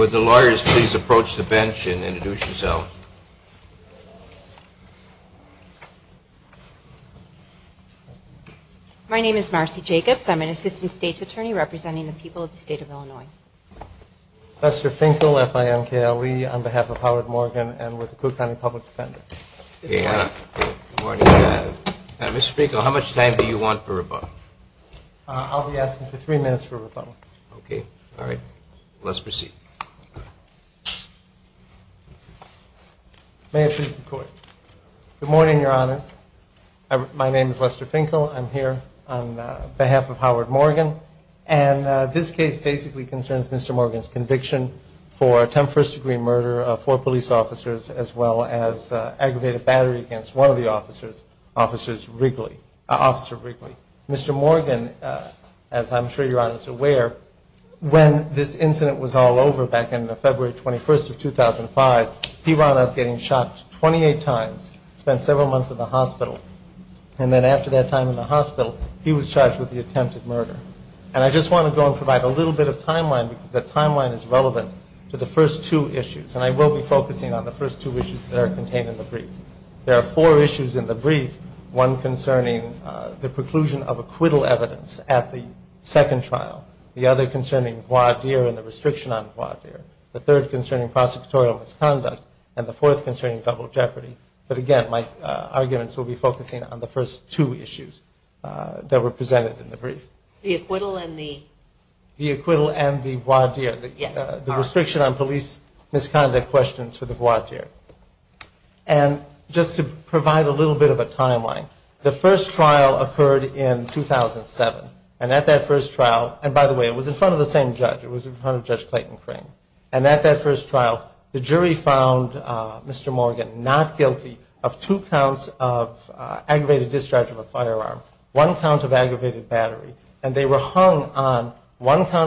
Would the lawyers please approach the bench and introduce yourselves. My name is Marcy Jacobs. I'm an assistant state's attorney representing the people of the state of Illinois. Professor Finkel, F-I-N-K-L-E, on behalf of Howard Morgan and with the Kootenai Public Defender. Good morning. Mr. Finkel, how much time do you want for rebuttal? I'll be asking for three minutes for rebuttal. Okay. All right. Let's proceed. May it please the Court. Good morning, Your Honors. My name is Lester Finkel. I'm here on behalf of Howard Morgan. And this case basically concerns Mr. Morgan's conviction for attempt first degree murder of four police officers as well as aggravated battery against one of the officers, Officer Wrigley. Mr. Morgan, as I'm sure Your Honors are aware, when this incident was all over back in the February 21st of 2005, he wound up getting shot 28 times, spent several months in the hospital. And then after that time in the hospital, he was charged with the attempted murder. And I just want to go and provide a little bit of timeline because that timeline is relevant to the first two issues. And I will be focusing on the first two issues that are contained in the brief. There are four issues in the brief, one concerning the preclusion of acquittal evidence at the second trial, the other concerning voir dire and the restriction on voir dire, the third concerning prosecutorial misconduct, and the fourth concerning double jeopardy. But again, my arguments will be focusing on the first two issues that were presented in the brief. The acquittal and the... The acquittal and the voir dire, the restriction on police misconduct questions for the voir dire. And just to provide a little bit of a timeline, the first trial occurred in 2007. And at that first trial, and by the way, it was in front of the same judge, it was in front of Judge Clayton Crane. And at that first trial, the jury found Mr. Morgan not were hung on one count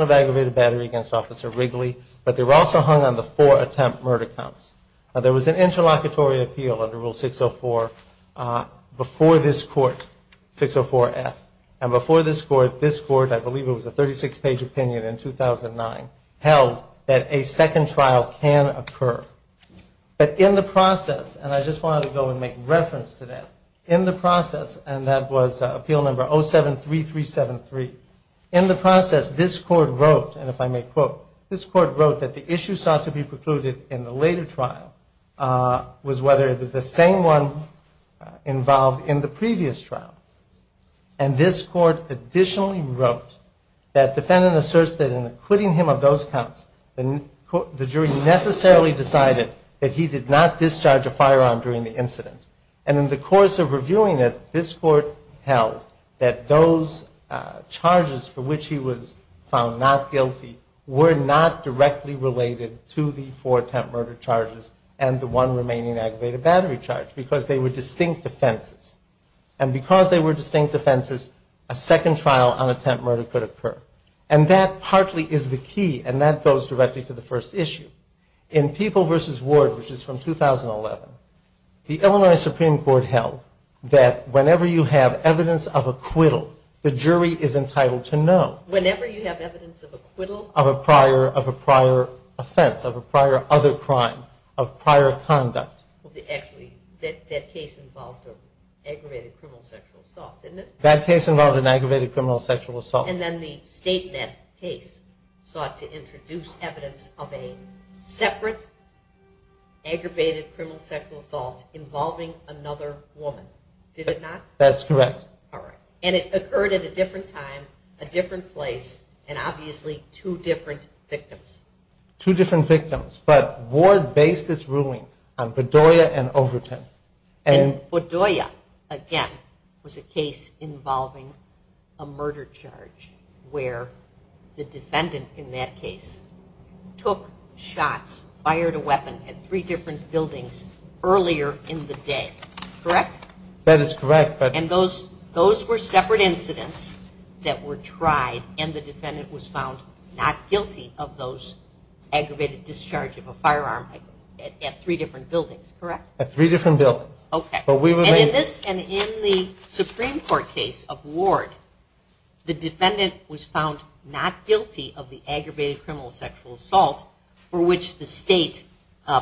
of aggravated battery against Officer Wrigley, but they were also hung on the four attempt murder counts. Now, there was an interlocutory appeal under Rule 604 before this court, 604F. And before this court, this court, I believe it was a 36-page opinion in 2009, held that a second trial can occur. But in the process, and I just wanted to go and make reference to that, in the process, and that was Appeal No. 073373, in the process, this court wrote, and if I may quote, this court wrote that the issue sought to be precluded in the later trial was whether it was the same one involved in the previous trial. And this court additionally wrote that defendant asserts that in acquitting him of those counts, the jury necessarily decided that he did not discharge a firearm during the incident. And in the course of reviewing it, this court held that those charges for which he was found not guilty were not directly related to the four attempt murder charges and the one remaining aggravated battery charge, because they were distinct offenses. And because they were distinct offenses, a second trial on attempt murder could occur. And that partly is the key, and that goes directly to the first issue. In People v. Ward, which is from 2011, the Illinois Supreme Court held that whenever you have evidence of acquittal, the jury is entitled to know. Whenever you have evidence of acquittal? Of a prior, of a prior offense, of a prior other crime, of prior conduct. Actually, that case involved an aggravated criminal sexual assault, didn't it? That case involved an aggravated criminal sexual assault. And then the state, that case, sought to introduce evidence of a separate aggravated criminal sexual assault involving another woman, did it not? That's correct. All right. And it occurred at a different time, a different place, and obviously, two different victims. Two different victims. But Ward based its ruling on Bedoya and Overton. And Bedoya, again, was a case involving a murder charge where the defendant in that case took shots, fired a weapon at three different buildings earlier in the day, correct? That is correct. And those were separate incidents that were tried, and the defendant was found not guilty of those aggravated discharge of a firearm at three different buildings, correct? At three different buildings. Okay. But we remain... And in this, and in the Supreme Court case of Ward, the defendant was found not guilty of the aggravated criminal sexual assault for which the state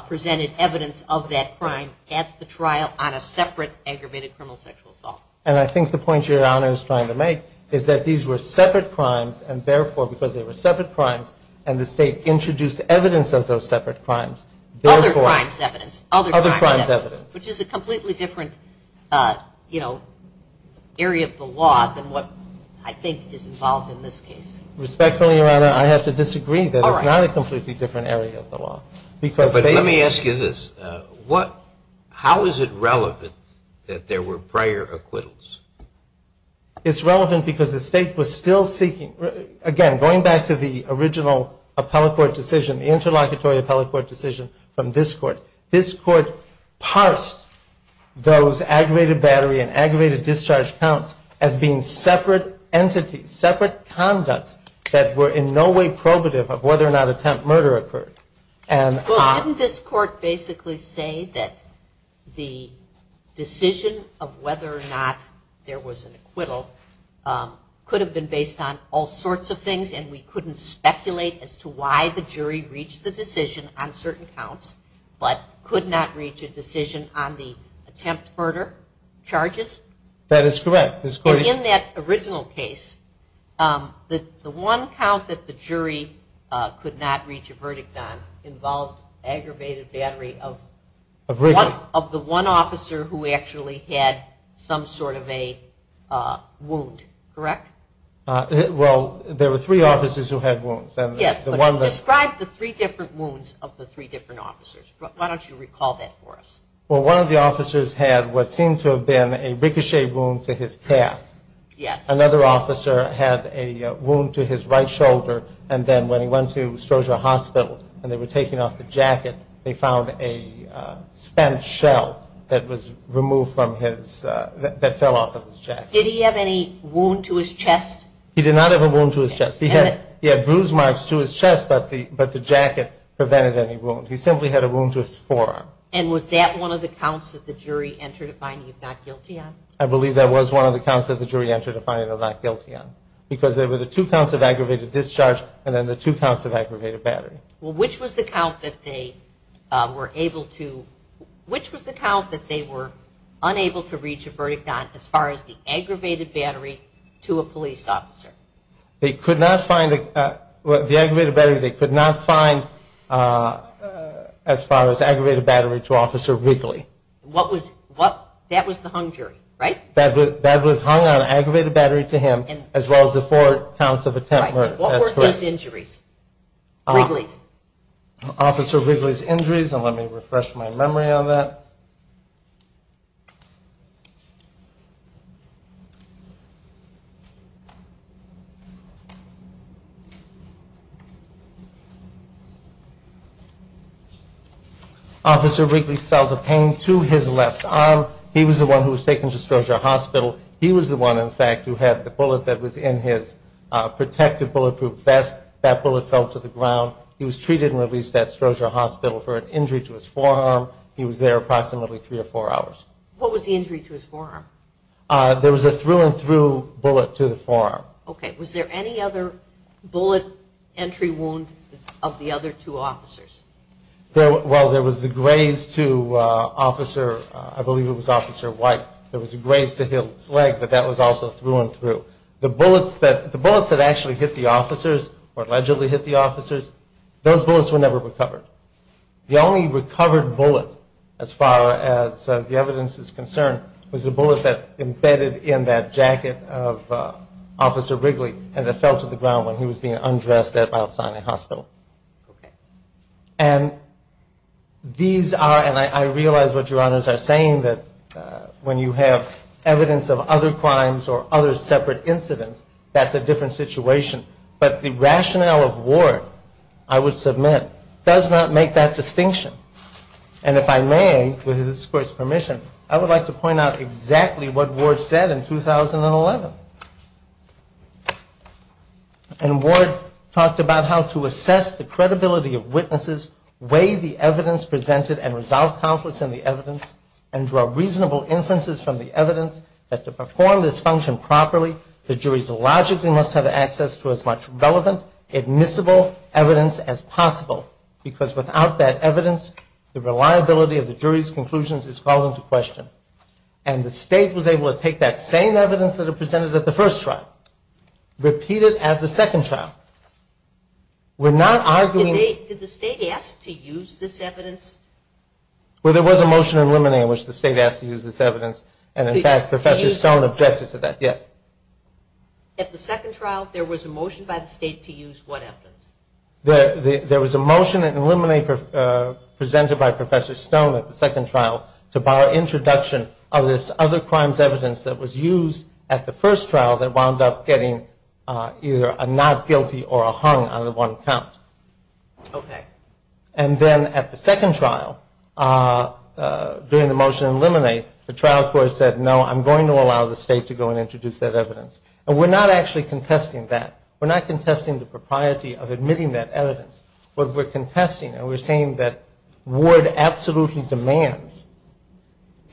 presented evidence of that crime at the trial on a separate aggravated criminal sexual assault. And I think the point Your Honor is trying to make is that these were separate crimes, and therefore, because they were separate crimes, and the state introduced evidence of those separate crimes, therefore... Other crimes evidence. Other crimes evidence. Which is a completely different, you know, area of the law than what I think is involved in this case. Respectfully, Your Honor, I have to disagree that it's not a completely different area of the law. But let me ask you this, how is it relevant that there were prior acquittals? It's relevant because the state was still seeking... Again, going back to the original appellate court decision, the interlocutory appellate court decision from this court, this court parsed those aggravated battery and aggravated discharge counts as being separate entities, separate conducts that were in no way probative of whether or not attempt murder occurred. And... Well, didn't this court basically say that the decision of whether or not there was an acquittal could have been based on all sorts of things, and we couldn't speculate as to why the decision on certain counts, but could not reach a decision on the attempt murder charges? That is correct. And in that original case, the one count that the jury could not reach a verdict on involved aggravated battery of one of the one officer who actually had some sort of a wound, correct? Well, there were three officers who had wounds. Yes, but describe the three different wounds of the three different officers. Why don't you recall that for us? Well, one of the officers had what seemed to have been a ricochet wound to his calf. Yes. Another officer had a wound to his right shoulder, and then when he went to Stroser Hospital and they were taking off the jacket, they found a spent shell that fell off of his jacket. Did he have any wound to his chest? He did not have a wound to his chest. He had bruise marks to his chest, but the jacket prevented any wound. He simply had a wound to his forearm. And was that one of the counts that the jury entered a finding of not guilty on? I believe that was one of the counts that the jury entered a finding of not guilty on, because there were the two counts of aggravated discharge and then the two counts of aggravated battery. Well, which was the count that they were able to, which was the count that they were unable to reach a verdict on as far as the aggravated battery to a police officer? They could not find, the aggravated battery they could not find as far as aggravated battery to Officer Wrigley. What was, that was the hung jury, right? That was hung on aggravated battery to him, as well as the four counts of attempt murder, that's correct. What were his injuries, Wrigley's? Officer Wrigley's injuries, and let me refresh my memory on that. Officer Wrigley felt a pain to his left arm. He was the one who was taken to Strozier Hospital. He was the one, in fact, who had the bullet that was in his protective bulletproof vest. That bullet fell to the ground. He was treated and released at Strozier Hospital for an injury to his forearm. He was there approximately three or four hours. What was the injury to his forearm? There was a through and through bullet to the forearm. Okay, was there any other bullet entry wound of the other two officers? Well, there was the graze to Officer, I believe it was Officer White. There was a graze to his leg, but that was also through and through. The bullets that actually hit the officers, or allegedly hit the officers, those bullets were never recovered. The only recovered bullet, as far as the evidence is concerned, was the bullet that embedded in that jacket of Officer Wrigley, and it fell to the ground when he was being undressed at Mount Sinai Hospital. Okay. And these are, and I realize what your honors are saying, that when you have evidence of other crimes or other separate incidents, that's a different situation, but the rationale of war, I would submit, does not make that distinction. And if I may, with this court's permission, I would like to point out exactly what Ward said in 2011. And Ward talked about how to assess the credibility of witnesses, weigh the evidence presented, and resolve conflicts in the evidence, and draw reasonable inferences from the evidence that to perform this function properly, the juries logically must have access to as much relevant, admissible evidence as possible. Because without that evidence, the reliability of the jury's conclusions is called into question. And the state was able to take that same evidence that it presented at the first trial, repeat it at the second trial. We're not arguing... Did the state ask to use this evidence? Well, there was a motion in Limine in which the state asked to use this evidence, and in fact, Professor Stone objected to that, yes. At the second trial, there was a motion by the state to use what evidence? There was a motion in Limine presented by Professor Stone at the second trial to bar introduction of this other crime's evidence that was used at the first trial that wound up getting either a not guilty or a hung on the one count. And then at the second trial, during the motion in Limine, the trial court said, no, I'm going to allow the state to go and introduce that evidence. And we're not actually contesting that. We're not contesting the propriety of admitting that evidence. What we're contesting, and we're saying that Ward absolutely demands,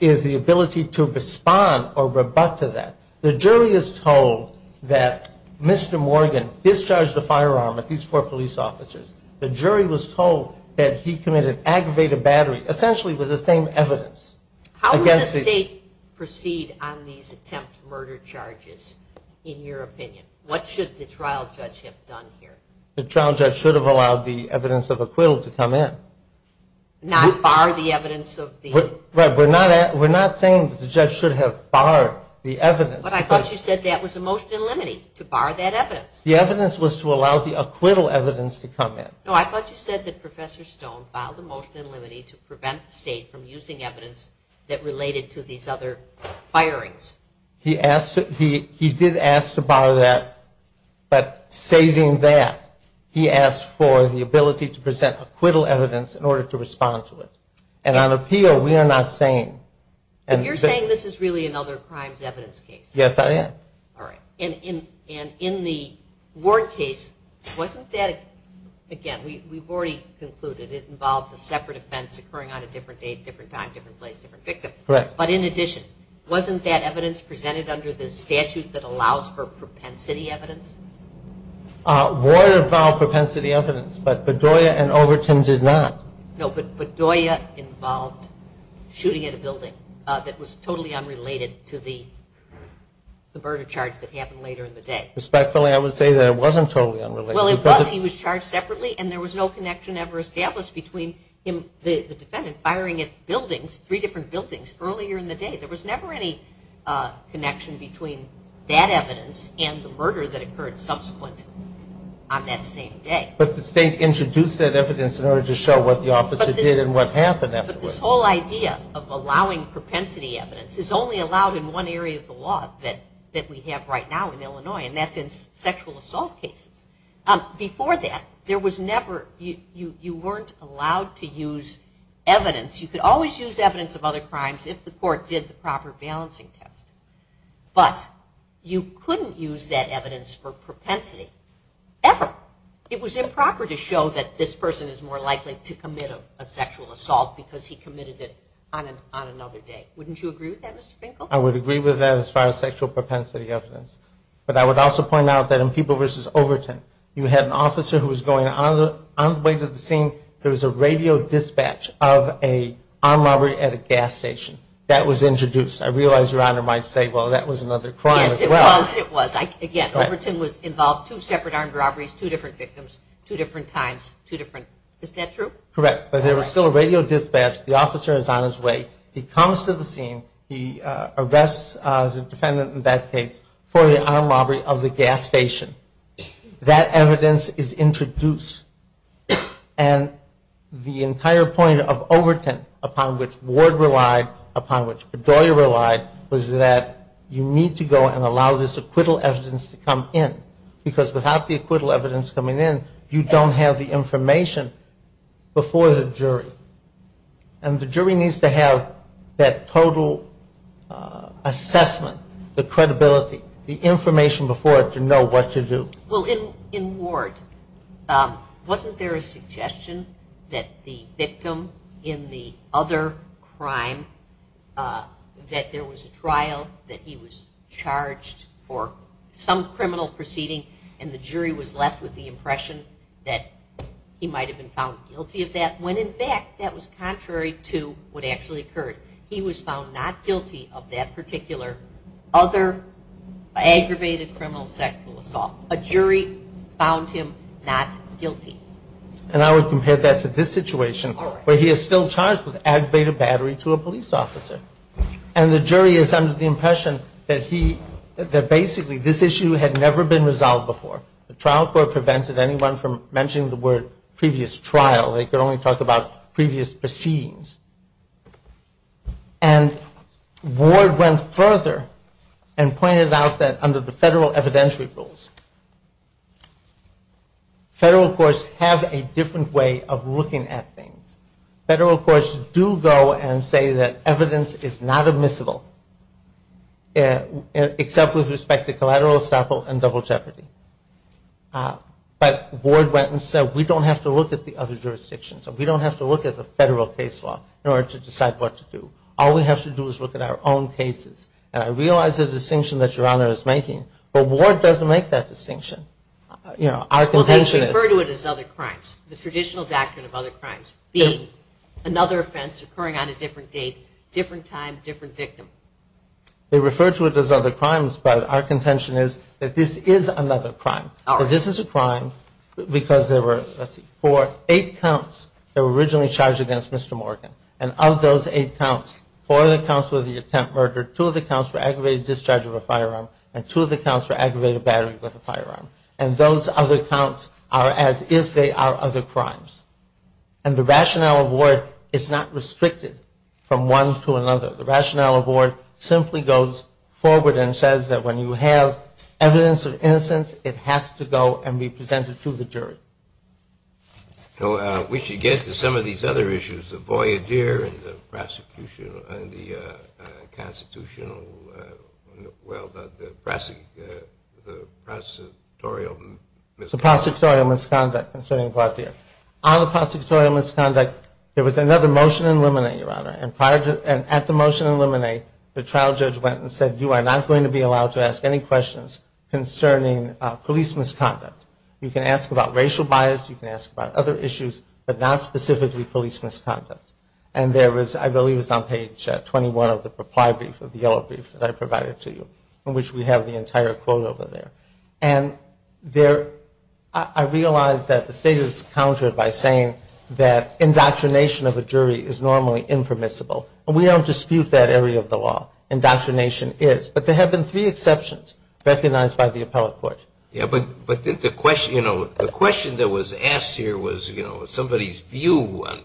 is the ability to respond or rebut to that. The jury is told that Mr. Morgan discharged a firearm at these four police officers. The jury was told that he committed aggravated battery, essentially with the same evidence. How would the state proceed on these attempt murder charges, in your opinion? What should the trial judge have done here? The trial judge should have allowed the evidence of acquittal to come in. Not bar the evidence of the... Right, we're not saying that the judge should have barred the evidence. But I thought you said that was a motion in Limine to bar that evidence. The evidence was to allow the acquittal evidence to come in. No, I thought you said that Professor Stone filed a motion in Limine to prevent the state from using evidence that related to these other firings. He did ask to bar that, but saving that, he asked for the ability to present acquittal evidence in order to respond to it. And on appeal, we are not saying... But you're saying this is really another crimes evidence case. Yes, I am. And in the Ward case, wasn't that... Again, we've already concluded it involved a separate offense occurring on a different date, different time, different place, different victim. Correct. But in addition, wasn't that evidence presented under the statute that allows for propensity evidence? Ward involved propensity evidence, but Bedoya and Overton did not. No, but Bedoya involved shooting at a building that was totally unrelated to the murder charge that happened later in the day. Respectfully, I would say that it wasn't totally unrelated. Well, it was. He was charged separately, and there was no connection ever established between the defendant firing at buildings, three different buildings, earlier in the day. There was never any connection between that evidence and the murder that occurred subsequent on that same day. But the state introduced that evidence in order to show what the officer did and what happened afterwards. But this whole idea of allowing propensity evidence is only allowed in one area of the law that we have right now in Illinois, and that's in sexual assault cases. Before that, you weren't allowed to use evidence. You could always use evidence of other crimes if the court did the proper balancing test. But you couldn't use that evidence for propensity, ever. It was improper to show that this person is more likely to commit a sexual assault because he committed it on another day. Wouldn't you agree with that, Mr. Finkel? I would agree with that as far as sexual propensity evidence. But I would also point out that in People v. Overton, you had an officer who was going on the way to the scene. There was a radio dispatch of an armed robbery at a gas station. That was introduced. I realize Your Honor might say, well, that was another crime as well. It was. Overton was involved in two separate armed robberies, two different victims, two different times. Is that true? Correct. But there was still a radio dispatch. The officer is on his way. He comes to the scene. He arrests the defendant in that case for the armed robbery of the gas station. That evidence is introduced. And the entire point of Overton upon which Ward relied, upon which Bedoya relied, was that you need to go and allow this acquittal evidence to come in. Because without the acquittal evidence coming in, you don't have the information before the jury. And the jury needs to have that total assessment, the credibility, the information before it to know what to do. Well, in Ward, wasn't there a suggestion that the victim in the other crime, that there was a trial, that he was charged for some criminal proceeding, and the jury was left with the impression that he might have been found guilty of that, when in fact that was contrary to what actually occurred. He was found not guilty of that particular other aggravated criminal sexual assault. A jury found him not guilty. And I would compare that to this situation where he is still charged with aggravated battery to a police officer. And the jury is under the impression that he, that basically this issue had never been resolved before. The trial court prevented anyone from mentioning the word previous trial. They could only talk about previous proceedings. And Ward went further and pointed out that under the federal evidentiary rules, federal courts have a different way of looking at things. Federal courts do go and say that evidence is not admissible, except with respect to collateral, estoppel, and double jeopardy. But Ward went and said, we don't have to look at the other jurisdictions. We don't have to look at the federal case law in order to decide what to do. All we have to do is look at our own cases. And I realize the distinction that Your Honor is making, but Ward doesn't make that distinction. You know, our contention is... Well, they refer to it as other crimes. The traditional doctrine of other crimes being another offense occurring on a different date, different time, different victim. They refer to it as other crimes, but our contention is that this is another crime. This is a crime because there were, let's see, four, eight counts that were originally charged against Mr. Morgan. And of those eight counts, four of the counts were the attempt murder, two of the counts were aggravated discharge of a firearm, and two of the counts were aggravated battery with a firearm. And those other counts are as if they are other crimes. And the rationale of Ward is not restricted from one to another. The rationale of Ward simply goes forward and says that when you have evidence of innocence, it has to go and be presented to the jury. So we should get to some of these other issues, the voyadier and the prosecutorial misconduct. On the prosecutorial misconduct, there was another motion in limine, Your Honor, and at the motion in limine, the trial judge went and said, you are not going to be allowed to ask any questions concerning police misconduct. You can ask about racial bias, you can ask about other issues, but not specifically police misconduct. And there was, I believe it was on page 21 of the reply brief, of the yellow brief that I provided to you, in which we have the entire quote over there. And I realize that the state is countered by saying that indoctrination of a jury is normally impermissible. And we don't dispute that area of the law. Indoctrination is. But there have been three exceptions recognized by the appellate court. But the question that was asked here was somebody's view on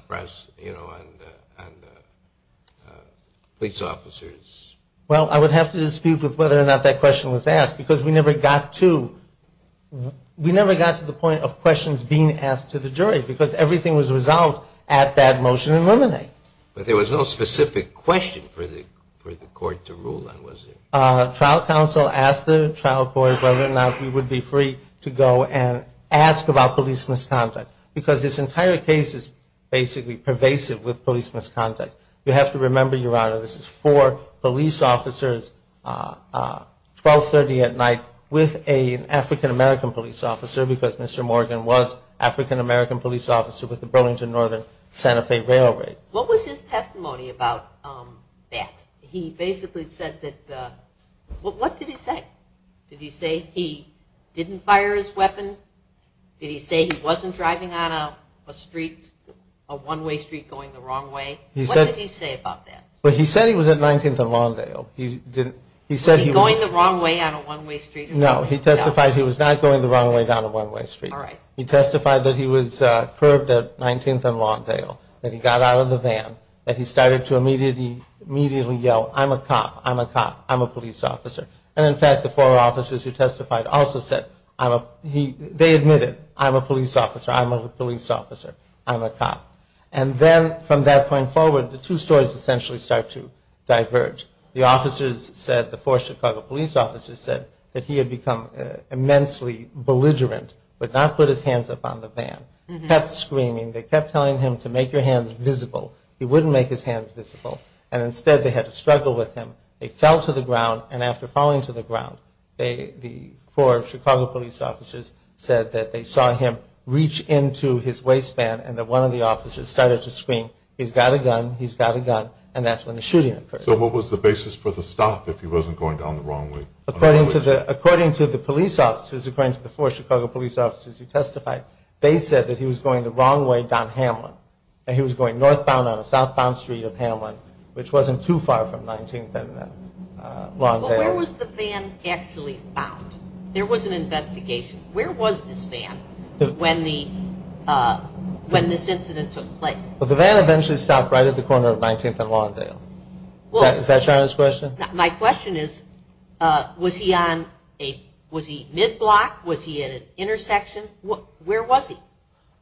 police officers. Well, I would have to dispute with whether or not that question was asked, because we never got to the point of questions being asked to the jury, because everything was resolved at that motion in limine. But there was no specific question for the court to rule on, was there? Trial counsel asked the trial court whether or not we would be free to go and ask about police misconduct. Because this entire case is basically pervasive with police misconduct. You have to remember, Your Honor, this is four police officers, 1230 at night, with an African-American police officer, because Mr. Morgan was African-American police officer with the Burlington-Northern Santa Fe Railroad. What was his testimony about that? He basically said that, what did he say? Did he say he didn't fire his weapon? Did he say he wasn't driving on a street, a one-way street going the wrong way? What did he say about that? He said he was at 19th and Lawndale. Was he going the wrong way on a one-way street? No, he testified he was not going the wrong way down a one-way street. He testified that he was curbed at 19th and Lawndale, that he got out of the van, that he started to immediately yell, I'm a cop, I'm a cop, I'm a police officer. And in fact, the four officers who testified also said, they admitted, I'm a police officer, I'm a police officer, I'm a cop. And then from that point forward, the two stories essentially start to diverge. The officers said, the four Chicago police officers said, that he had become immensely belligerent, would not put his hands up on the van, kept screaming, they kept telling him to make your hands visible. He wouldn't make his hands visible, and instead they had to struggle with him. They fell to the ground, and after falling to the ground, the four Chicago police officers said that they saw him reach into his waistband and that one of the officers started to scream, he's got a gun, he's got a gun, and that's when the shooting occurred. So what was the basis for the stop if he wasn't going down the wrong way? According to the police officers, according to the four Chicago police officers who testified, they said that he was going the wrong way down Hamlin, that he was going northbound on a southbound street of Hamlin, which wasn't too far from 19th and Lawndale. But where was the van actually found? There was an investigation. Where was this van when this incident took place? Well, the van eventually stopped right at the corner of 19th and Lawndale. Is that China's question? My question is, was he mid-block? Was he at an intersection? Where was he?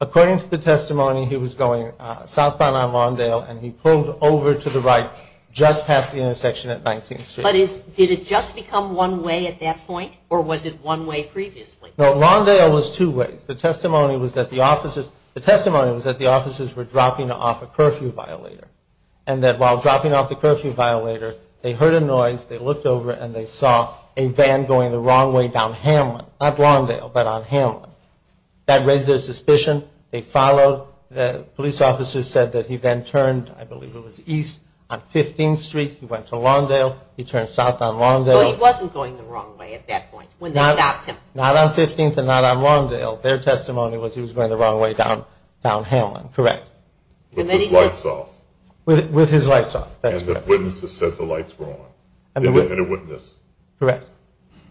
According to the testimony, he was going southbound on Lawndale, and he pulled over to the right just past the intersection at 19th Street. But did it just become one way at that point, or was it one way previously? No, Lawndale was two ways. The testimony was that the officers were dropping off a curfew violator, and that while dropping off the curfew violator, they heard a noise, they looked over, and they saw a van going the wrong way down Hamlin, not Lawndale, but on Hamlin. That raised their suspicion. They followed. The police officers said that he then turned, I believe it was, east on 15th Street. He went to Lawndale. He turned south on Lawndale. So he wasn't going the wrong way at that point when they stopped him? Not on 15th and not on Lawndale. Their testimony was he was going the wrong way down Hamlin, correct. With his lights off. With his lights off, that's correct. And the witnesses said the lights were on. And the witness. Correct,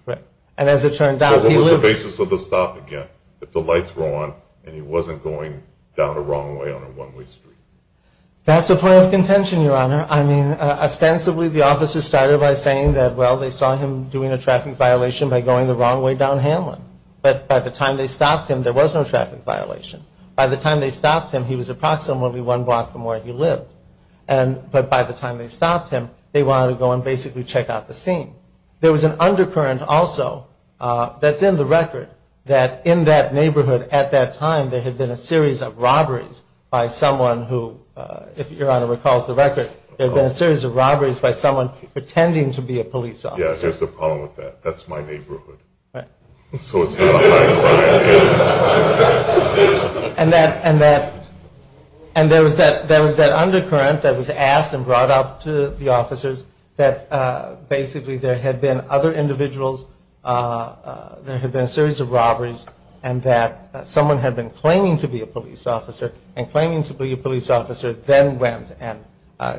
correct. And as it turned out, he lived there. So what was the basis of the stop again, that the lights were on and he wasn't going down the wrong way on a one-way street? That's a point of contention, Your Honor. I mean, ostensibly the officers started by saying that, well, they saw him doing a traffic violation by going the wrong way down Hamlin. But by the time they stopped him, there was no traffic violation. By the time they stopped him, he was approximately one block from where he lived. But by the time they stopped him, they wanted to go and basically check out the scene. There was an undercurrent also that's in the record that in that neighborhood at that time, there had been a series of robberies by someone who, if Your Honor recalls the record, there had been a series of robberies by someone pretending to be a police officer. Yeah, here's the problem with that. That's my neighborhood. Right. So it's not my neighborhood. And there was that undercurrent that was asked and brought up to the officers that basically there had been other individuals, there had been a series of robberies, and that someone had been claiming to be a police officer and claiming to be a police officer then went and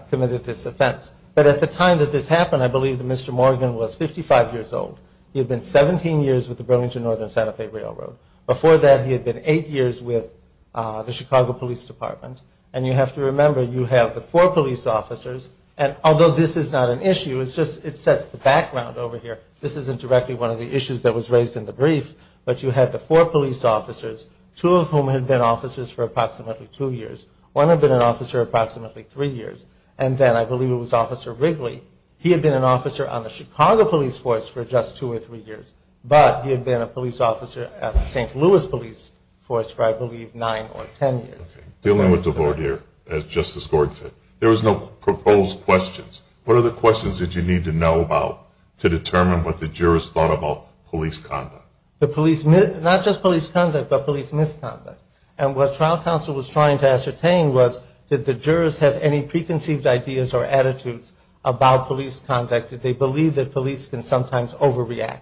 committed this offense. But at the time that this happened, I believe that Mr. Morgan was 55 years old. He had been 17 years with the Burlington-Northern Santa Fe Railroad. Before that, he had been eight years with the Chicago Police Department. And you have to remember, you have the four police officers, and although this is not an issue, it's just it sets the background over here. This isn't directly one of the issues that was raised in the brief, but you had the four police officers, two of whom had been officers for approximately two years, one had been an officer for approximately three years, and then I believe it was Officer Wrigley. He had been an officer on the Chicago Police Force for just two or three years, but he had been a police officer at the St. Louis Police Force for, I believe, nine or ten years. Dealing with the board here, as Justice Gord said, there was no proposed questions. What are the questions that you need to know about to determine what the jurors thought about police conduct? Not just police conduct, but police misconduct. And what trial counsel was trying to ascertain was, did the jurors have any preconceived ideas or attitudes about police conduct? Did they believe that police can sometimes overreact?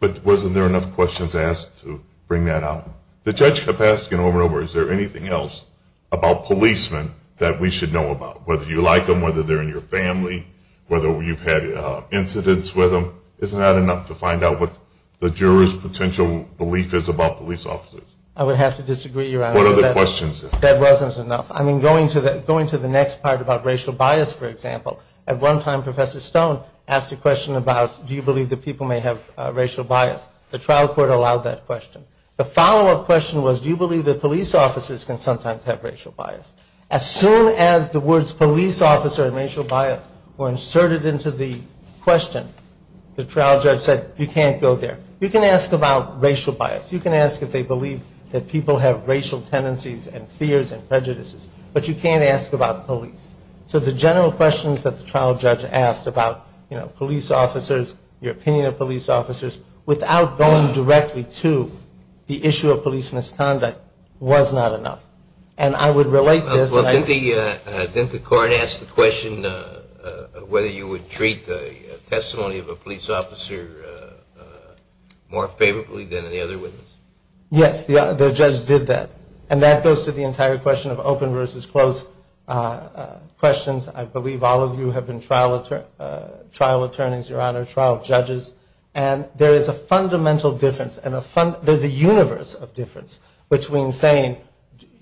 But wasn't there enough questions asked to bring that out? The judge kept asking over and over, is there anything else about policemen that we should know about? Whether you like them, whether they're in your family, whether you've had incidents with them, isn't that enough to find out what the jurors' potential belief is about police officers? I would have to disagree, Your Honor. What other questions? That wasn't enough. I mean, going to the next part about racial bias, for example, at one time Professor Stone asked a question about, do you believe that people may have racial bias? The trial court allowed that question. The follow-up question was, do you believe that police officers can sometimes have racial bias? As soon as the words police officer and racial bias were inserted into the question, the trial judge said, you can't go there. You can ask about racial bias. You can ask if they believe that people have racial tendencies and fears and prejudices. But you can't ask about police. So the general questions that the trial judge asked about police officers, your opinion of police officers, without going directly to the issue of police misconduct was not enough. And I would relate this. Well, didn't the court ask the question whether you would treat the testimony of a police officer more favorably than any other witness? Yes, the judge did that. And that goes to the entire question of open versus closed questions. I believe all of you have been trial attorneys, Your Honor, trial judges. And there is a fundamental difference. There is a universe of difference between saying,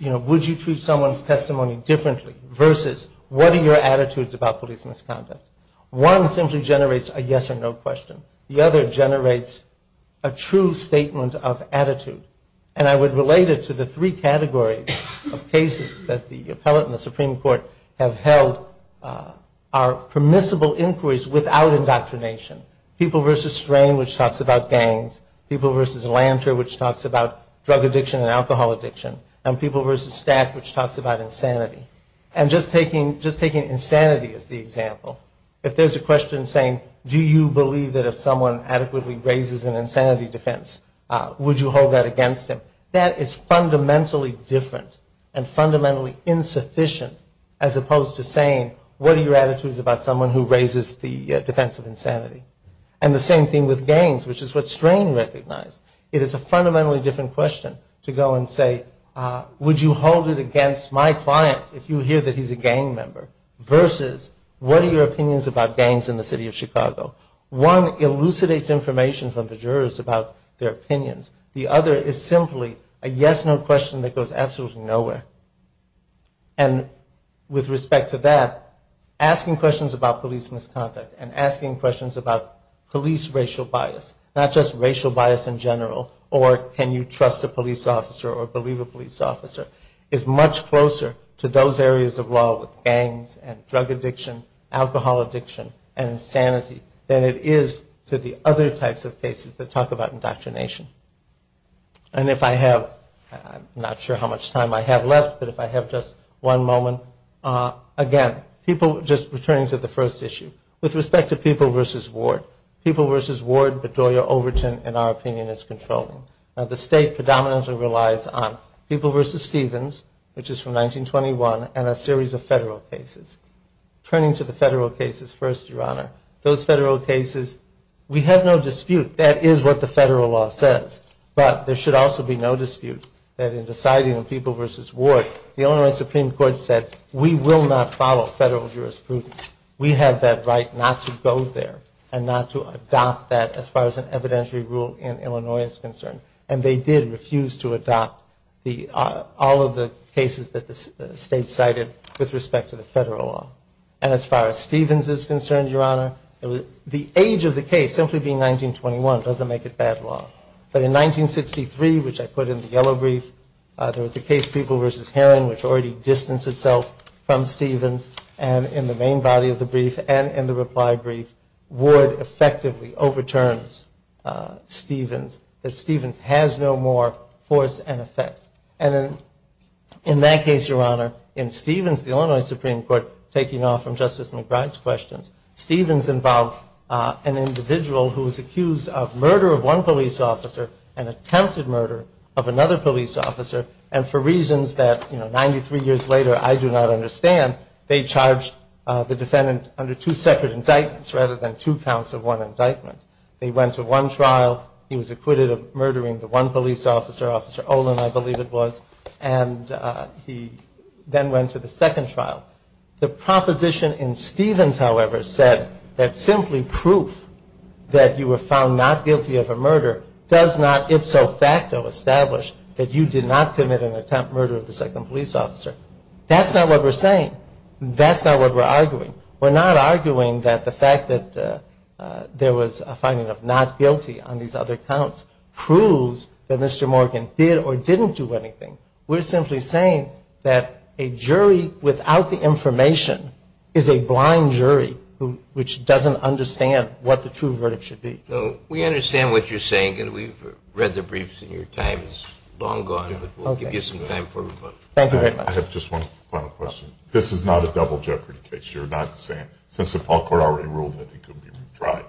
would you treat someone's testimony differently versus what are your attitudes about police misconduct. One simply generates a yes or no question. The other generates a true statement of attitude. And I would relate it to the three categories of cases that the appellate and the Supreme Court have held are permissible inquiries without indoctrination. People versus strain, which talks about gangs. People versus lantern, which talks about drug addiction and alcohol addiction. And people versus stack, which talks about insanity. And just taking insanity as the example, if there's a question saying, do you believe that if someone adequately raises an insanity defense, would you hold that against him? That is fundamentally different and fundamentally insufficient as opposed to saying, what are your attitudes about someone who raises the defense of insanity? And the same thing with gangs, which is what strain recognized. It is a fundamentally different question to go and say, would you hold it against my client if you hear that he's a gang member? Versus, what are your opinions about gangs in the city of Chicago? One elucidates information from the jurors about their opinions. The other is simply a yes or no question that goes absolutely nowhere. And with respect to that, asking questions about police misconduct and asking questions about police racial bias, not just racial bias in general, or can you trust a police officer or believe a police officer, is much closer to those areas of law with gangs and drug addiction, alcohol addiction, and insanity than it is to the other types of cases that talk about indoctrination. And if I have, I'm not sure how much time I have left, but if I have just one moment. Again, people, just returning to the first issue. With respect to People v. Ward, People v. Ward, Bedoya, Overton, in our opinion, is controlling. Now the state predominantly relies on People v. Stevens, which is from 1921, and a series of federal cases. Turning to the federal cases first, Your Honor, those federal cases, we have no dispute, that is what the federal law says, but there should also be no dispute that in deciding on People v. Ward, the Illinois Supreme Court said we will not follow federal jurisprudence. We have that right not to go there and not to adopt that as far as an evidentiary rule in Illinois is concerned. And they did refuse to adopt all of the cases that the state cited with respect to the federal law. And as far as Stevens is concerned, Your Honor, the age of the case, simply being 1921, doesn't make it bad law. But in 1963, which I put in the yellow brief, there was the case People v. Heron, which already distanced itself from Stevens. And in the main body of the brief and in the reply brief, Ward effectively overturns Stevens, that Stevens has no more force and effect. And in that case, Your Honor, in Stevens, the Illinois Supreme Court, taking off from Justice McBride's questions, Stevens involved an individual who was accused of murder of one police officer and attempted murder of another police officer. And for reasons that, you know, 93 years later I do not understand, they charged the defendant under two separate indictments rather than two counts of one indictment. They went to one trial, he was acquitted of murdering the one police officer, Officer Olin, I believe it was, and he then went to the second trial. The proposition in Stevens, however, said that simply proof that you were found not guilty of a murder does not ipso facto establish that you did not commit an attempt murder of the second police officer. That's not what we're saying. That's not what we're arguing. We're not arguing that the fact that there was a finding of not guilty on these other counts proves that Mr. Morgan did or didn't do anything. We're simply saying that a jury without the information is a blind jury which doesn't understand what the true verdict should be. We understand what you're saying, and we've read the briefs and your time has long gone, but we'll give you some time. Thank you very much. I have just one final question. This is not a double jeopardy case. You're not saying, since the Paul Court already ruled that he could be tried.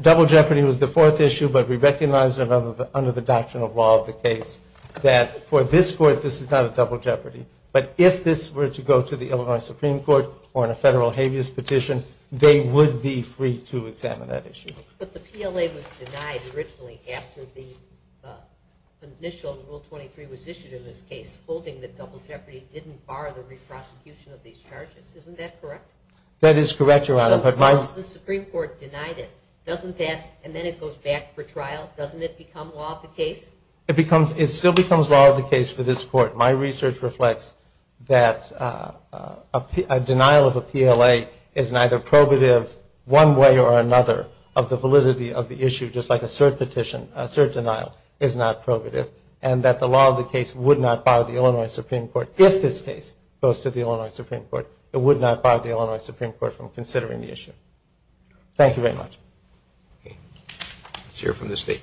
Double jeopardy was the fourth issue, but we recognize under the doctrine of law of the case that for this court this is not a double jeopardy, but if this were to go to the Illinois Supreme Court or in a federal habeas petition, they would be free to examine that issue. But the PLA was denied originally after the initial Rule 23 was issued in this case, holding that double jeopardy didn't bar the re-prosecution of these charges. Isn't that correct? That is correct, Your Honor. But once the Supreme Court denied it, doesn't that, and then it goes back for trial, doesn't it become law of the case? It still becomes law of the case for this court. My research reflects that a denial of a PLA is neither probative one way or another of the validity of the issue, just like a cert petition, a cert denial, is not probative, and that the law of the case would not bar the Illinois Supreme Court, if this case goes to the Illinois Supreme Court, it would not bar the Illinois Supreme Court from considering the issue. Thank you very much. Let's hear from the State.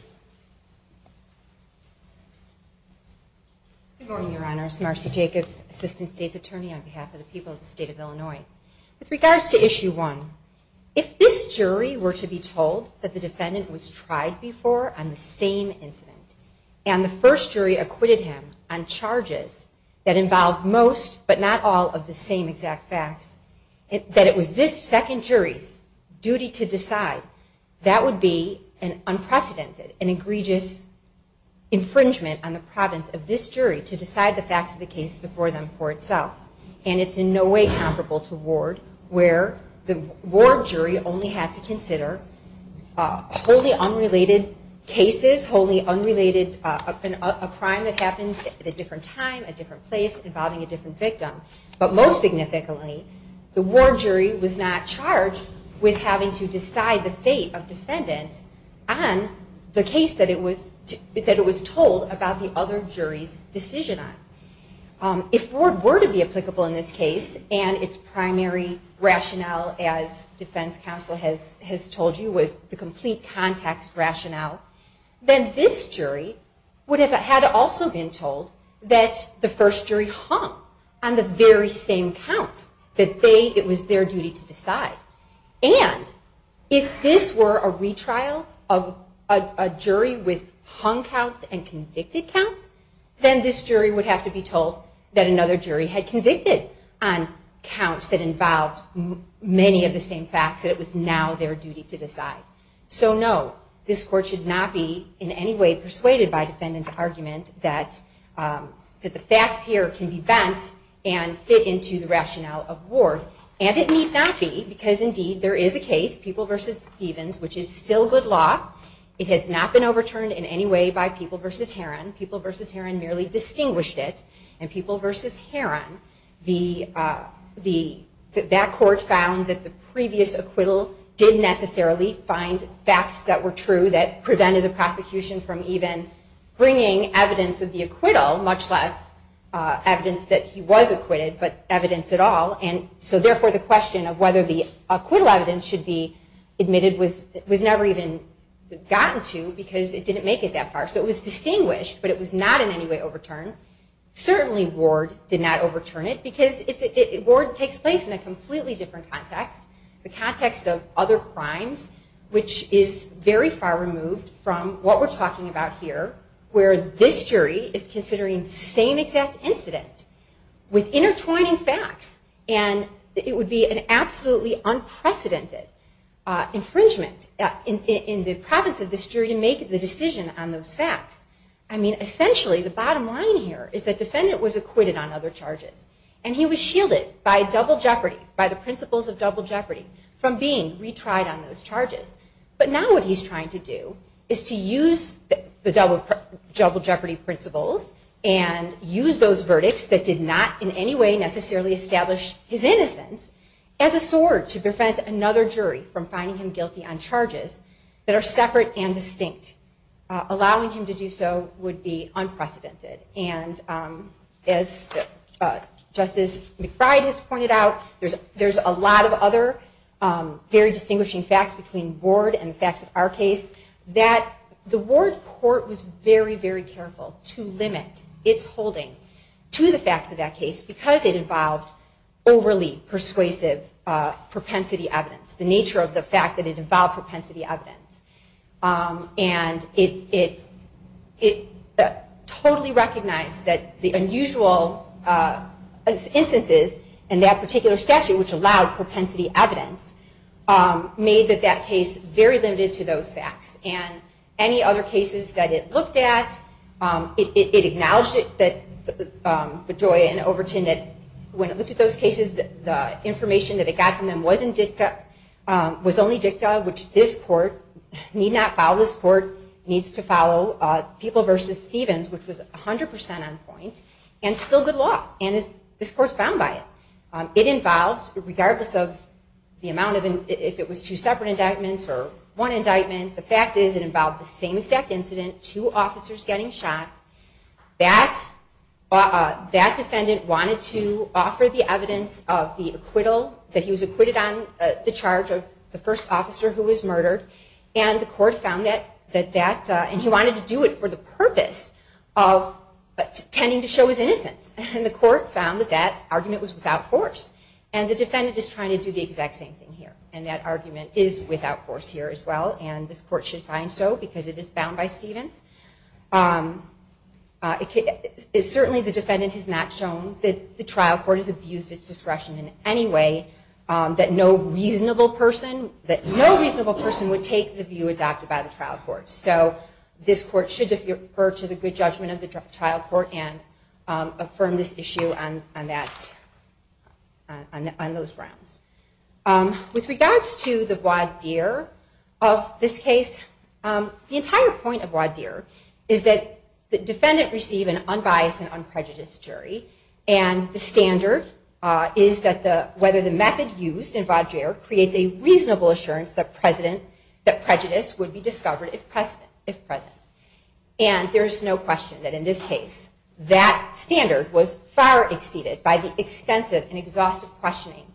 Good morning, Your Honor. Marcy Jacobs, Assistant State's Attorney on behalf of the people of the State of Illinois. With regards to Issue 1, if this jury were to be told that the defendant was tried before on the same incident, and the first jury acquitted him on charges that involve most, but not all, of the same exact facts, that it was this second jury's duty to decide, that would be an unprecedented, an egregious infringement on the province of this jury to decide the facts of the case before them for itself. And it's in no way comparable to Ward, where the Ward jury only had to consider wholly unrelated cases, wholly unrelated, a crime that happened at a different time, a different place, involving a different victim. But most significantly, the Ward jury was not charged with having to decide the fate of defendants on the case that it was told about the other jury's decision on. If Ward were to be applicable in this case, and its primary rationale, as defense counsel has told you, was the complete context rationale, then this jury would have had also been told that the first jury hung on the very same counts, that it was their duty to decide. And if this were a retrial of a jury with hung counts and convicted counts, then this jury would have to decide whether or not it was their duty to decide. And this jury would have to be told that another jury had convicted on counts that involved many of the same facts, that it was now their duty to decide. So no, this court should not be in any way persuaded by defendant's argument that the facts here can be bent and fit into the rationale of Ward. And it need not be, because indeed there is a case, People v. Stevens, which is still good law. It has not been overturned in any way by People v. Herron. And People v. Herron, that court found that the previous acquittal did necessarily find facts that were true that prevented the prosecution from even bringing evidence of the acquittal, much less evidence that he was acquitted, but evidence at all. And so therefore the question of whether the acquittal evidence should be admitted was never even gotten to, because it didn't make it that far. So it was distinguished, but it was not in any way overturned. Certainly Ward did not overturn it, because Ward takes place in a completely different context, the context of other crimes, which is very far removed from what we're talking about here, where this jury is considering the same exact incident with intertwining facts. And it would be an absolutely unprecedented infringement in the province of this jury to make the decision on those facts. I mean, essentially the bottom line here is that the defendant was acquitted on other charges, and he was shielded by double jeopardy, by the principles of double jeopardy, from being retried on those charges. But now what he's trying to do is to use the double jeopardy principles and use those verdicts that did not in any way necessarily establish his innocence as a sword to prevent another jury from finding him guilty on charges that are separate and distinct, allowing him to be acquitted. And allowing him to do so would be unprecedented. And as Justice McBride has pointed out, there's a lot of other very distinguishing facts between Ward and the facts of our case, that the Ward court was very, very careful to limit its holding to the facts of that case, because it involved overly persuasive propensity evidence, the nature of the fact that it involved propensity evidence. And it totally recognized that the unusual instances in that particular statute, which allowed propensity evidence, made that that case very limited to those facts. And any other cases that it looked at, it acknowledged it, that Bedoya and Overton, that when it looked at those cases, the information that it got from them was only dicta, which this court did not have. Need not follow this court, needs to follow People v. Stevens, which was 100% on point, and still good law, and this court's bound by it. It involved, regardless of the amount of, if it was two separate indictments or one indictment, the fact is it involved the same exact incident, two officers getting shot. That defendant wanted to offer the evidence of the acquittal, that he was acquitted on the charge of the first officer who was murdered. And the court found that that, and he wanted to do it for the purpose of tending to show his innocence, and the court found that that argument was without force. And the defendant is trying to do the exact same thing here, and that argument is without force here as well, and this court should find so, because it is bound by Stevens. It certainly, the defendant has not shown that the trial court has abused its discretion in any way, that no reasonable person, that no reasonable person would take the view adopted by the trial court, so this court should defer to the good judgment of the trial court and affirm this issue on that, on those grounds. With regards to the voir dire of this case, the entire point of voir dire is that the defendant received an unbiased and unprejudiced jury, and the standard is that the, whether the method used in voir dire creates a reasonable assurance that the president is guilty of the crime. That prejudice would be discovered if present, and there is no question that in this case, that standard was far exceeded by the extensive and exhaustive questioning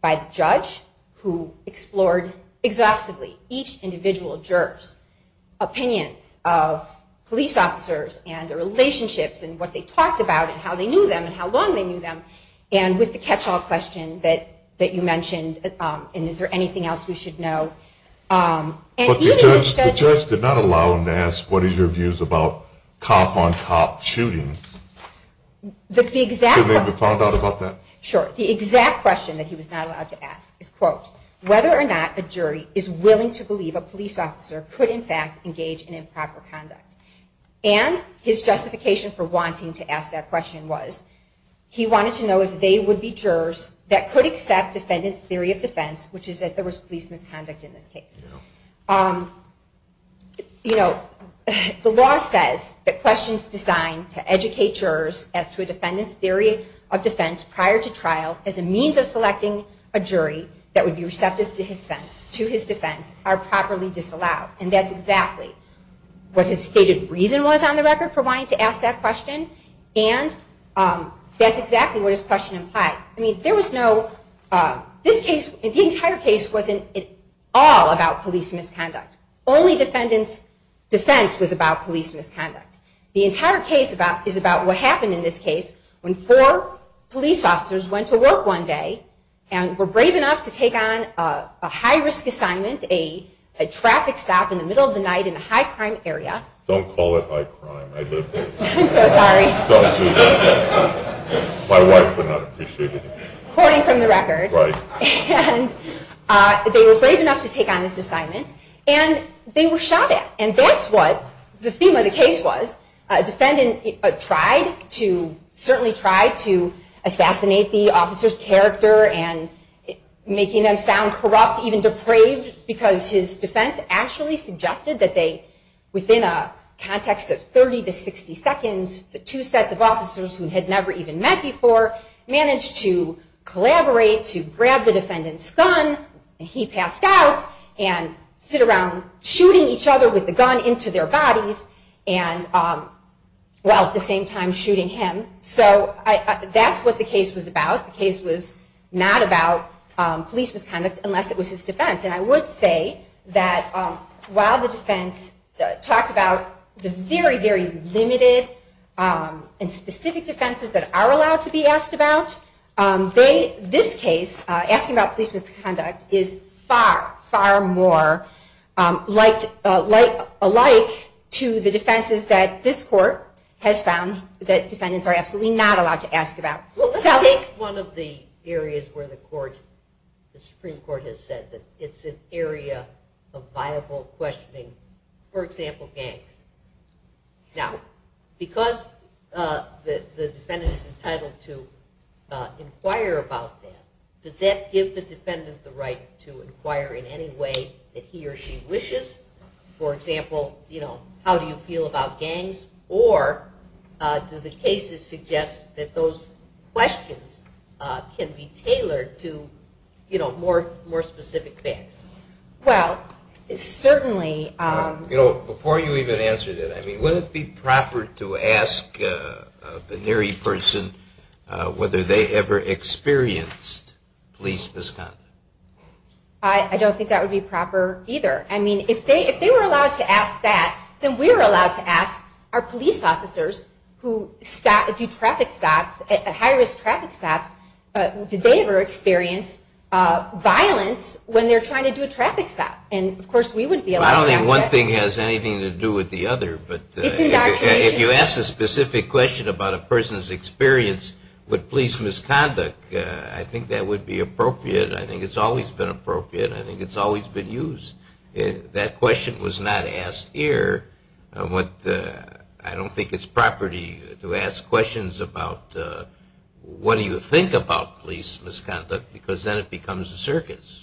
by the judge who explored exhaustively each individual juror's opinions of police officers and their relationships and what they talked about and how they knew them and how long they knew them, and with the catch-all question that you should know, and even the judge- But the judge did not allow him to ask, what is your views about cop-on-cop shootings? Should they be found out about that? Sure. The exact question that he was not allowed to ask is, quote, whether or not a jury is willing to believe a police officer could, in fact, engage in improper conduct, and his justification for wanting to ask that question was, he wanted to know if they would be jurors that could accept defendant's theory of defense, which is that there was police misconduct in this case. You know, the law says that questions designed to educate jurors as to a defendant's theory of defense prior to trial as a means of selecting a jury that would be receptive to his defense are properly disallowed, and that's exactly what his stated reason was on the record for wanting to ask that question, and that's exactly what his question implied. I mean, there was no, this case, the entire case wasn't at all about police misconduct. Only defendant's defense was about police misconduct. The entire case is about what happened in this case when four police officers went to work one day and were brave enough to take on a high-risk assignment, a traffic stop in the middle of the night in a high-crime area. Don't call it high-crime. I'm so sorry. Quoting from the record, and they were brave enough to take on this assignment, and they were shot at, and that's what the theme of the case was. A defendant tried to, certainly tried to assassinate the officer's character and making them sound corrupt, even depraved, because his defense actually suggested that they, within a context of 30 to 60 seconds, the two sets of officers who had never even met before, managed to collaborate to grab the defendant's gun, and he passed out, and sit around shooting each other with the gun into their bodies, and, well, at the same time shooting him, so that's what the case was about. The case was not about police misconduct unless it was his defense, and I would say that while the defense talked about the very, very limited and specific defenses that are allowed to be asked about, this case, asking about police misconduct, is far, far more alike to the defenses that this court has found that defendants are absolutely not allowed to ask about. The Supreme Court has said that it's an area of viable questioning, for example, gangs. Now, because the defendant is entitled to inquire about that, does that give the defendant the right to inquire in any way that he or she wishes? For example, you know, how do you feel about gangs, or do the cases suggest that those questions can be tailored to, you know, more specific questions? Well, certainly, you know, before you even answered it, I mean, would it be proper to ask a venerey person whether they ever experienced police misconduct? I don't think that would be proper, either. I mean, if they were allowed to ask that, then we're allowed to ask, are police officers who do traffic stops, high-risk traffic stops, did they ever experience violence? When they're trying to do a traffic stop. And, of course, we wouldn't be allowed to ask that. Well, I don't think one thing has anything to do with the other, but if you ask a specific question about a person's experience with police misconduct, I think that would be appropriate. I think it's always been appropriate. I think it's always been used. That question was not asked here. I don't think it's property to ask questions about what do you think about police misconduct, because then it becomes a circus.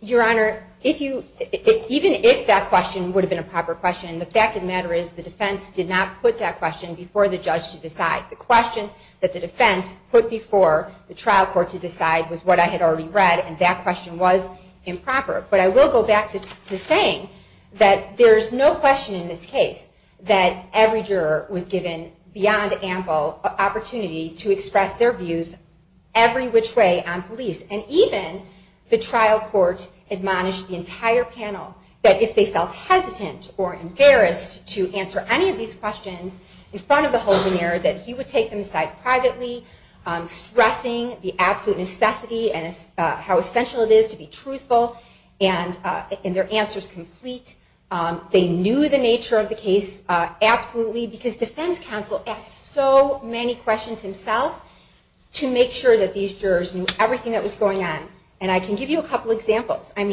Your Honor, even if that question would have been a proper question, the fact of the matter is the defense did not put that question before the judge to decide. The question that the defense put before the trial court to decide was what I had already read, and that question was improper. But I will go back to saying that there's no question in this case that every juror was given beyond ample opportunity to weigh on police. And even the trial court admonished the entire panel that if they felt hesitant or embarrassed to answer any of these questions in front of the whole veneer, that he would take them aside privately, stressing the absolute necessity and how essential it is to be truthful and their answers complete. They knew the nature of the case absolutely, because defense counsel asked so many questions himself to make sure that these jurors knew everything that was going on. And I can give you a couple examples. So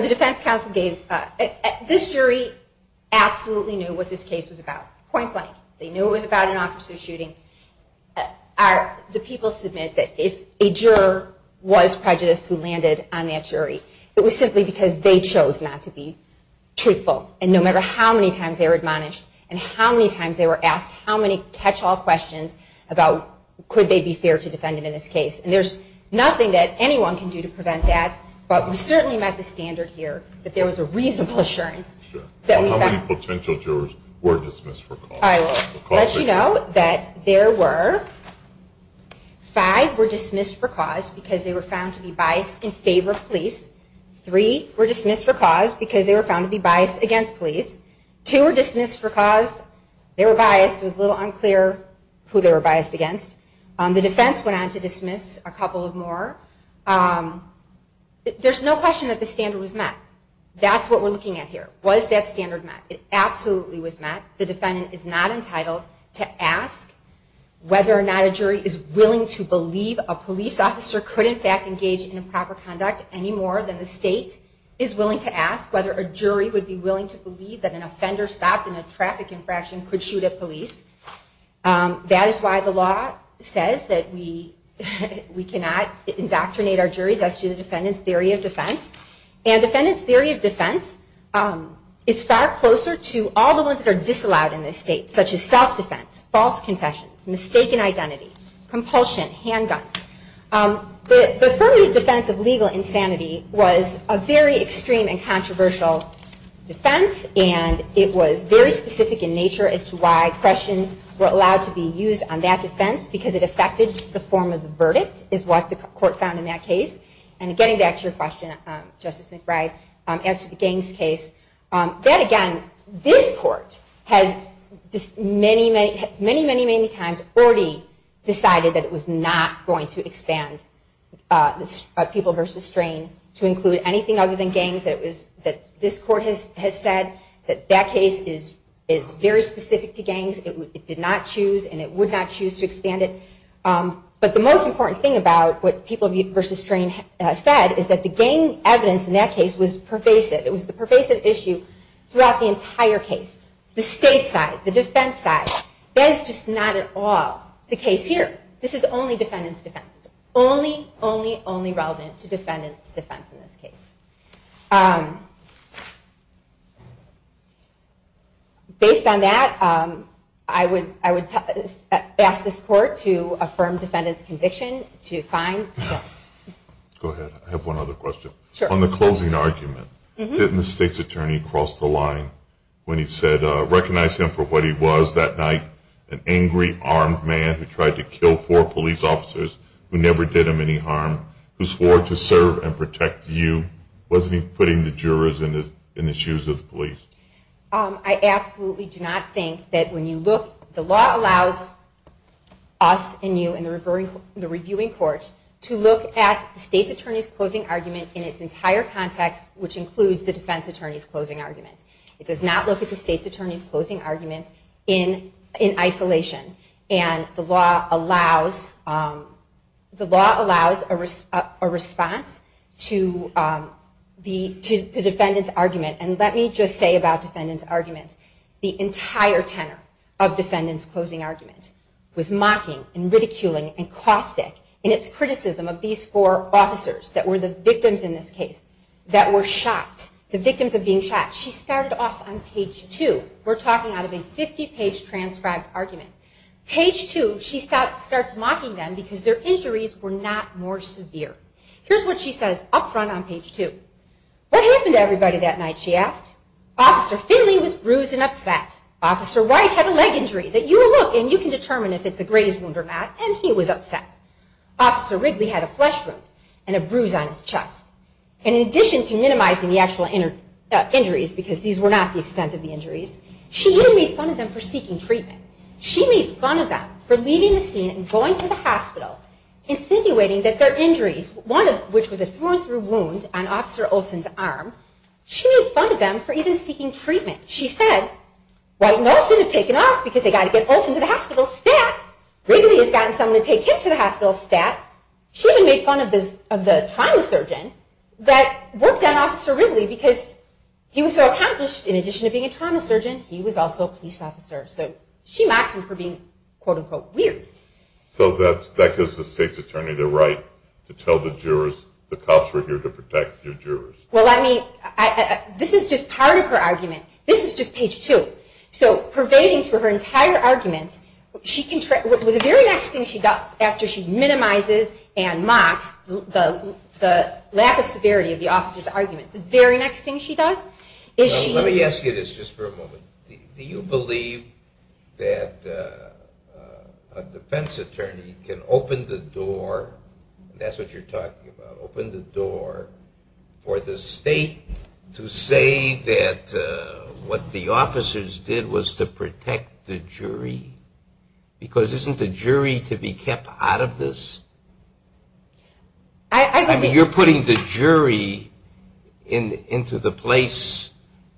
the defense counsel gave, this jury absolutely knew what this case was about, point blank. They knew it was about an officer's shooting. The people submit that if a juror was prejudiced, who landed on that shooting ground, that he would have been dismissed from the jury. It was simply because they chose not to be truthful. And no matter how many times they were admonished, and how many times they were asked how many catch-all questions about could they be fair to defendant in this case. And there's nothing that anyone can do to prevent that, but we certainly met the standard here that there was a reasonable assurance that we found. How many potential jurors were dismissed for cause? Let you know that there were five were dismissed for cause because they were found to be biased in favor of police. Three were dismissed for cause because they were found to be biased against police. Two were dismissed for cause they were biased, it was a little unclear who they were biased against. The defense went on to dismiss a couple of more. There's no question that the standard was met. That's what we're looking at here. Was that standard met? It absolutely was met. The defendant is not a juror. The defendant is not entitled to ask whether or not a jury is willing to believe a police officer could in fact engage in improper conduct any more than the state is willing to ask, whether a jury would be willing to believe that an offender stopped in a traffic infraction could shoot at police. That is why the law says that we cannot indoctrinate our juries as to the defendant's theory of defense. And defendant's theory of defense is far closer to all the ones that are disallowed in this state, such as self-defense, false confessions, mistaken identity, compulsion, handguns. The affirmative defense of legal insanity was a very extreme and controversial defense, and it was very specific in nature as to why questions were allowed to be used on that defense, because it affected the form of the verdict, is what the court found in that case. And getting back to your question, Justice McBride, as to the Gaines case, that again, this court has dismissed the defendant's theory of defense as pervasive. Many, many, many times already decided that it was not going to expand people versus strain to include anything other than Gaines, that this court has said that that case is very specific to Gaines. It did not choose, and it would not choose to expand it. But the most important thing about what people versus strain said is that the Gaines evidence in that case was pervasive. It was the pervasive issue throughout the entire case. The state side, the defense side, the jury side, the defense side, that is just not at all the case here. This is only defendant's defense. It's only, only, only relevant to defendant's defense in this case. Based on that, I would ask this court to affirm defendant's conviction to fine. Go ahead. I have one other question. On the closing argument, didn't the state's attorney cross the line when he said, I recognize him for what he was that night, an angry armed man who tried to kill four police officers who never did him any harm, who swore to serve and protect you. Wasn't he putting the jurors in the shoes of the police? I absolutely do not think that when you look, the law allows us and you and the reviewing court to look at the state's attorney's closing argument in its entire context, which includes the defense attorney's closing argument. It does not look at the state's attorney's closing argument in isolation. And the law allows, the law allows a response to the defendant's argument. And let me just say about defendant's argument, the entire tenor of defendant's closing argument was mocking and ridiculing and caustic in its criticism of these four officers that were the victims in this case, that were shot, the victims of being shot. She was talking out of a 50-page transcribed argument. Page two, she starts mocking them because their injuries were not more severe. Here's what she says up front on page two. What happened to everybody that night, she asked. Officer Finley was bruised and upset. Officer White had a leg injury that you will look and you can determine if it's a graze wound or not, and he was upset. Officer Wrigley had a flesh wound and a bruise on his chest. And in addition to minimizing the actual injuries, because these were not the extent of the injuries, she even made fun of them for seeking treatment. She made fun of them for leaving the scene and going to the hospital, insinuating that their injuries, one of which was a thrown through wound on Officer Olson's arm, she made fun of them for even seeking treatment. She said, White and Olson have taken off because they've got to get Olson to the hospital stat. Wrigley has gotten someone to take him to the hospital stat. She even made fun of the trauma surgeon that was there. He was so accomplished, in addition to being a trauma surgeon, he was also a police officer. So she mocked him for being quote unquote weird. So that gives the state's attorney the right to tell the jurors, the cops were here to protect your jurors. Well, this is just part of her argument. This is just page two. So pervading through her entire argument, the very next thing she does after she minimizes and mocks the lack of severity of the officer's argument, the very next thing she does is she Let me ask you this just for a moment. Do you believe that a defense attorney can open the door, that's what you're talking about, open the door for the state to say that what the officers did was to protect the jury? Because isn't the jury to be kept out of this? I mean, you're putting the jury into the place of the defense attorney. I mean, you're putting the jury into the place of the defense attorney. I mean, you're putting the jury into the place of the defense attorney. I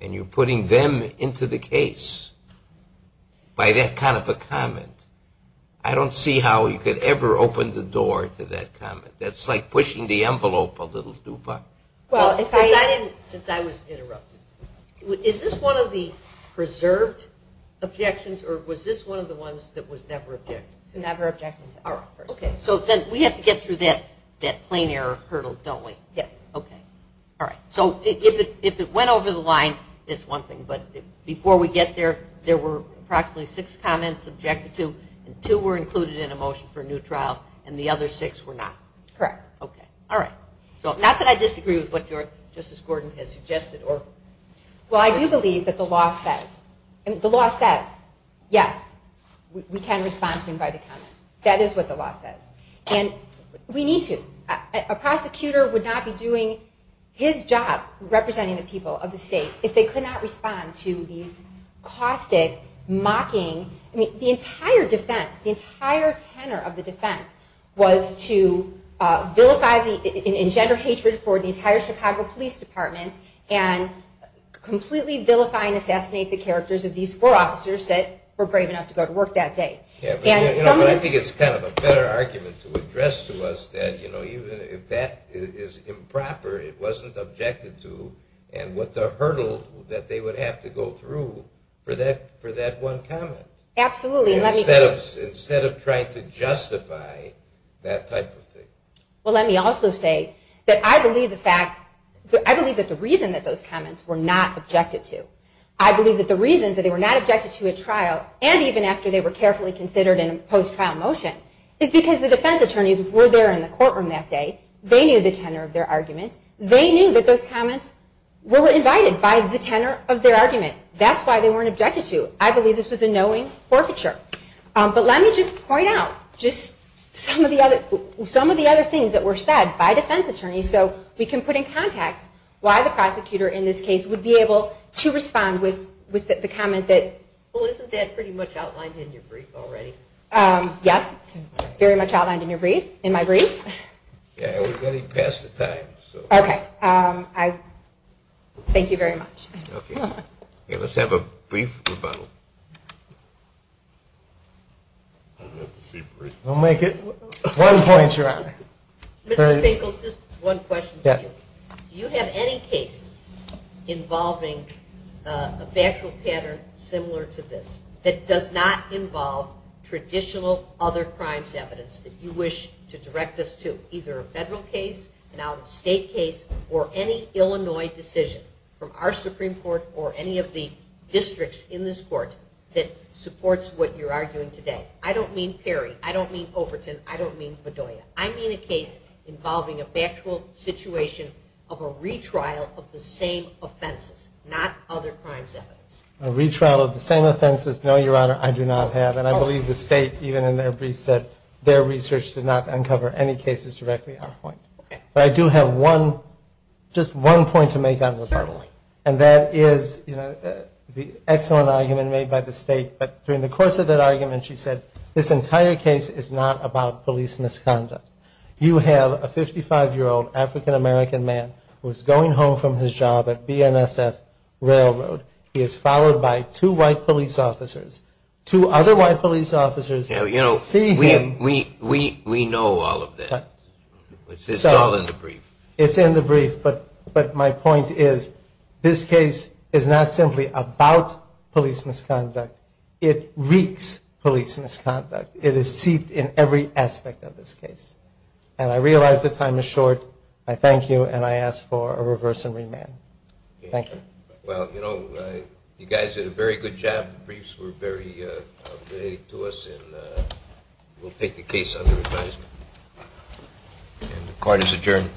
mean, you're putting them into the case by that kind of a comment. I don't see how you could ever open the door to that comment. That's like pushing the envelope a little too far. Well, since I was interrupted, is this one of the preserved objections or was this one of the ones that was never objected? Okay. So we have to get through that plain error hurdle, don't we? Yes. Okay. All right. So if it went over the line, it's one thing, but before we get there, there were approximately six comments objected to and two were included in a motion for a new trial and the other six were not. Correct. Okay. All right. So not that I disagree with what Justice Gordon has suggested. Well, I do believe that the law says, the law says, yes, we can respond to him by the comments. That is what the law says. And we need to. A prosecutor would not be doing his job representing the people of the state if they could not respond to these caustic, mocking, I mean, the entire defense, the entire tenor of the defense was to vilify and engender hatred for the entire Chicago Police Department and completely vilify and assassinate the characters of these four officers that were brave enough to go to work that day. Yeah, but I think it's kind of a better argument to address to us that, you know, even if that is improper, it wasn't objected to and what the hurdle that they would have to go through for that one comment. Absolutely. Instead of trying to justify that type of thing. Well, let me also say that I believe the fact, I believe that the reason that those comments were not objected to, I believe that the reason that they were not objected to at trial and even after they were carefully considered in a post-trial motion is because the defense attorneys were there in the courtroom that day. They knew the tenor of their argument. They knew that those comments were invited by the tenor of their argument. That's why they weren't objected to. I believe this was a knowing forfeiture. But let me just point out just some of the other things that were said by defense attorneys so we can put in comment that. Well, isn't that pretty much outlined in your brief already? Yes, it's very much outlined in your brief, in my brief. Yeah, we're getting past the time. Okay. Thank you very much. Okay. Let's have a brief rebuttal. We'll make it one point, Your Honor. Mr. Finkel, just one question for you. Yes. Do you have any cases involving a factual pattern of offense similar to this that does not involve traditional other crimes evidence that you wish to direct us to, either a federal case, an out-of-state case, or any Illinois decision from our Supreme Court or any of the districts in this court that supports what you're arguing today? I don't mean Perry. I don't mean Overton. I don't mean Bedoya. I mean a case involving a factual situation of a retrial of the same offenses, not other crimes evidence. A retrial of the same offenses, yes. A retrial of the same offenses, no, Your Honor, I do not have. And I believe the State, even in their brief, said their research did not uncover any cases directly on point. Okay. But I do have one, just one point to make on this. Certainly. And that is, you know, the excellent argument made by the State. But during the course of that argument, she said, this entire case is not about police misconduct. You have a 55-year-old African-American man who is going home from his job at this time. Two white police officers. Two other white police officers. You know, we know all of that. It's all in the brief. It's in the brief, but my point is, this case is not simply about police misconduct. It wreaks police misconduct. It is seeped in every aspect of this case. And I realize the time is short. I thank you, and I ask for a reverse and remand. Thank you. Well, you know, you guys did a very good job. The briefs were very up to date to us, and we'll take the case under advisement. And the court is adjourned.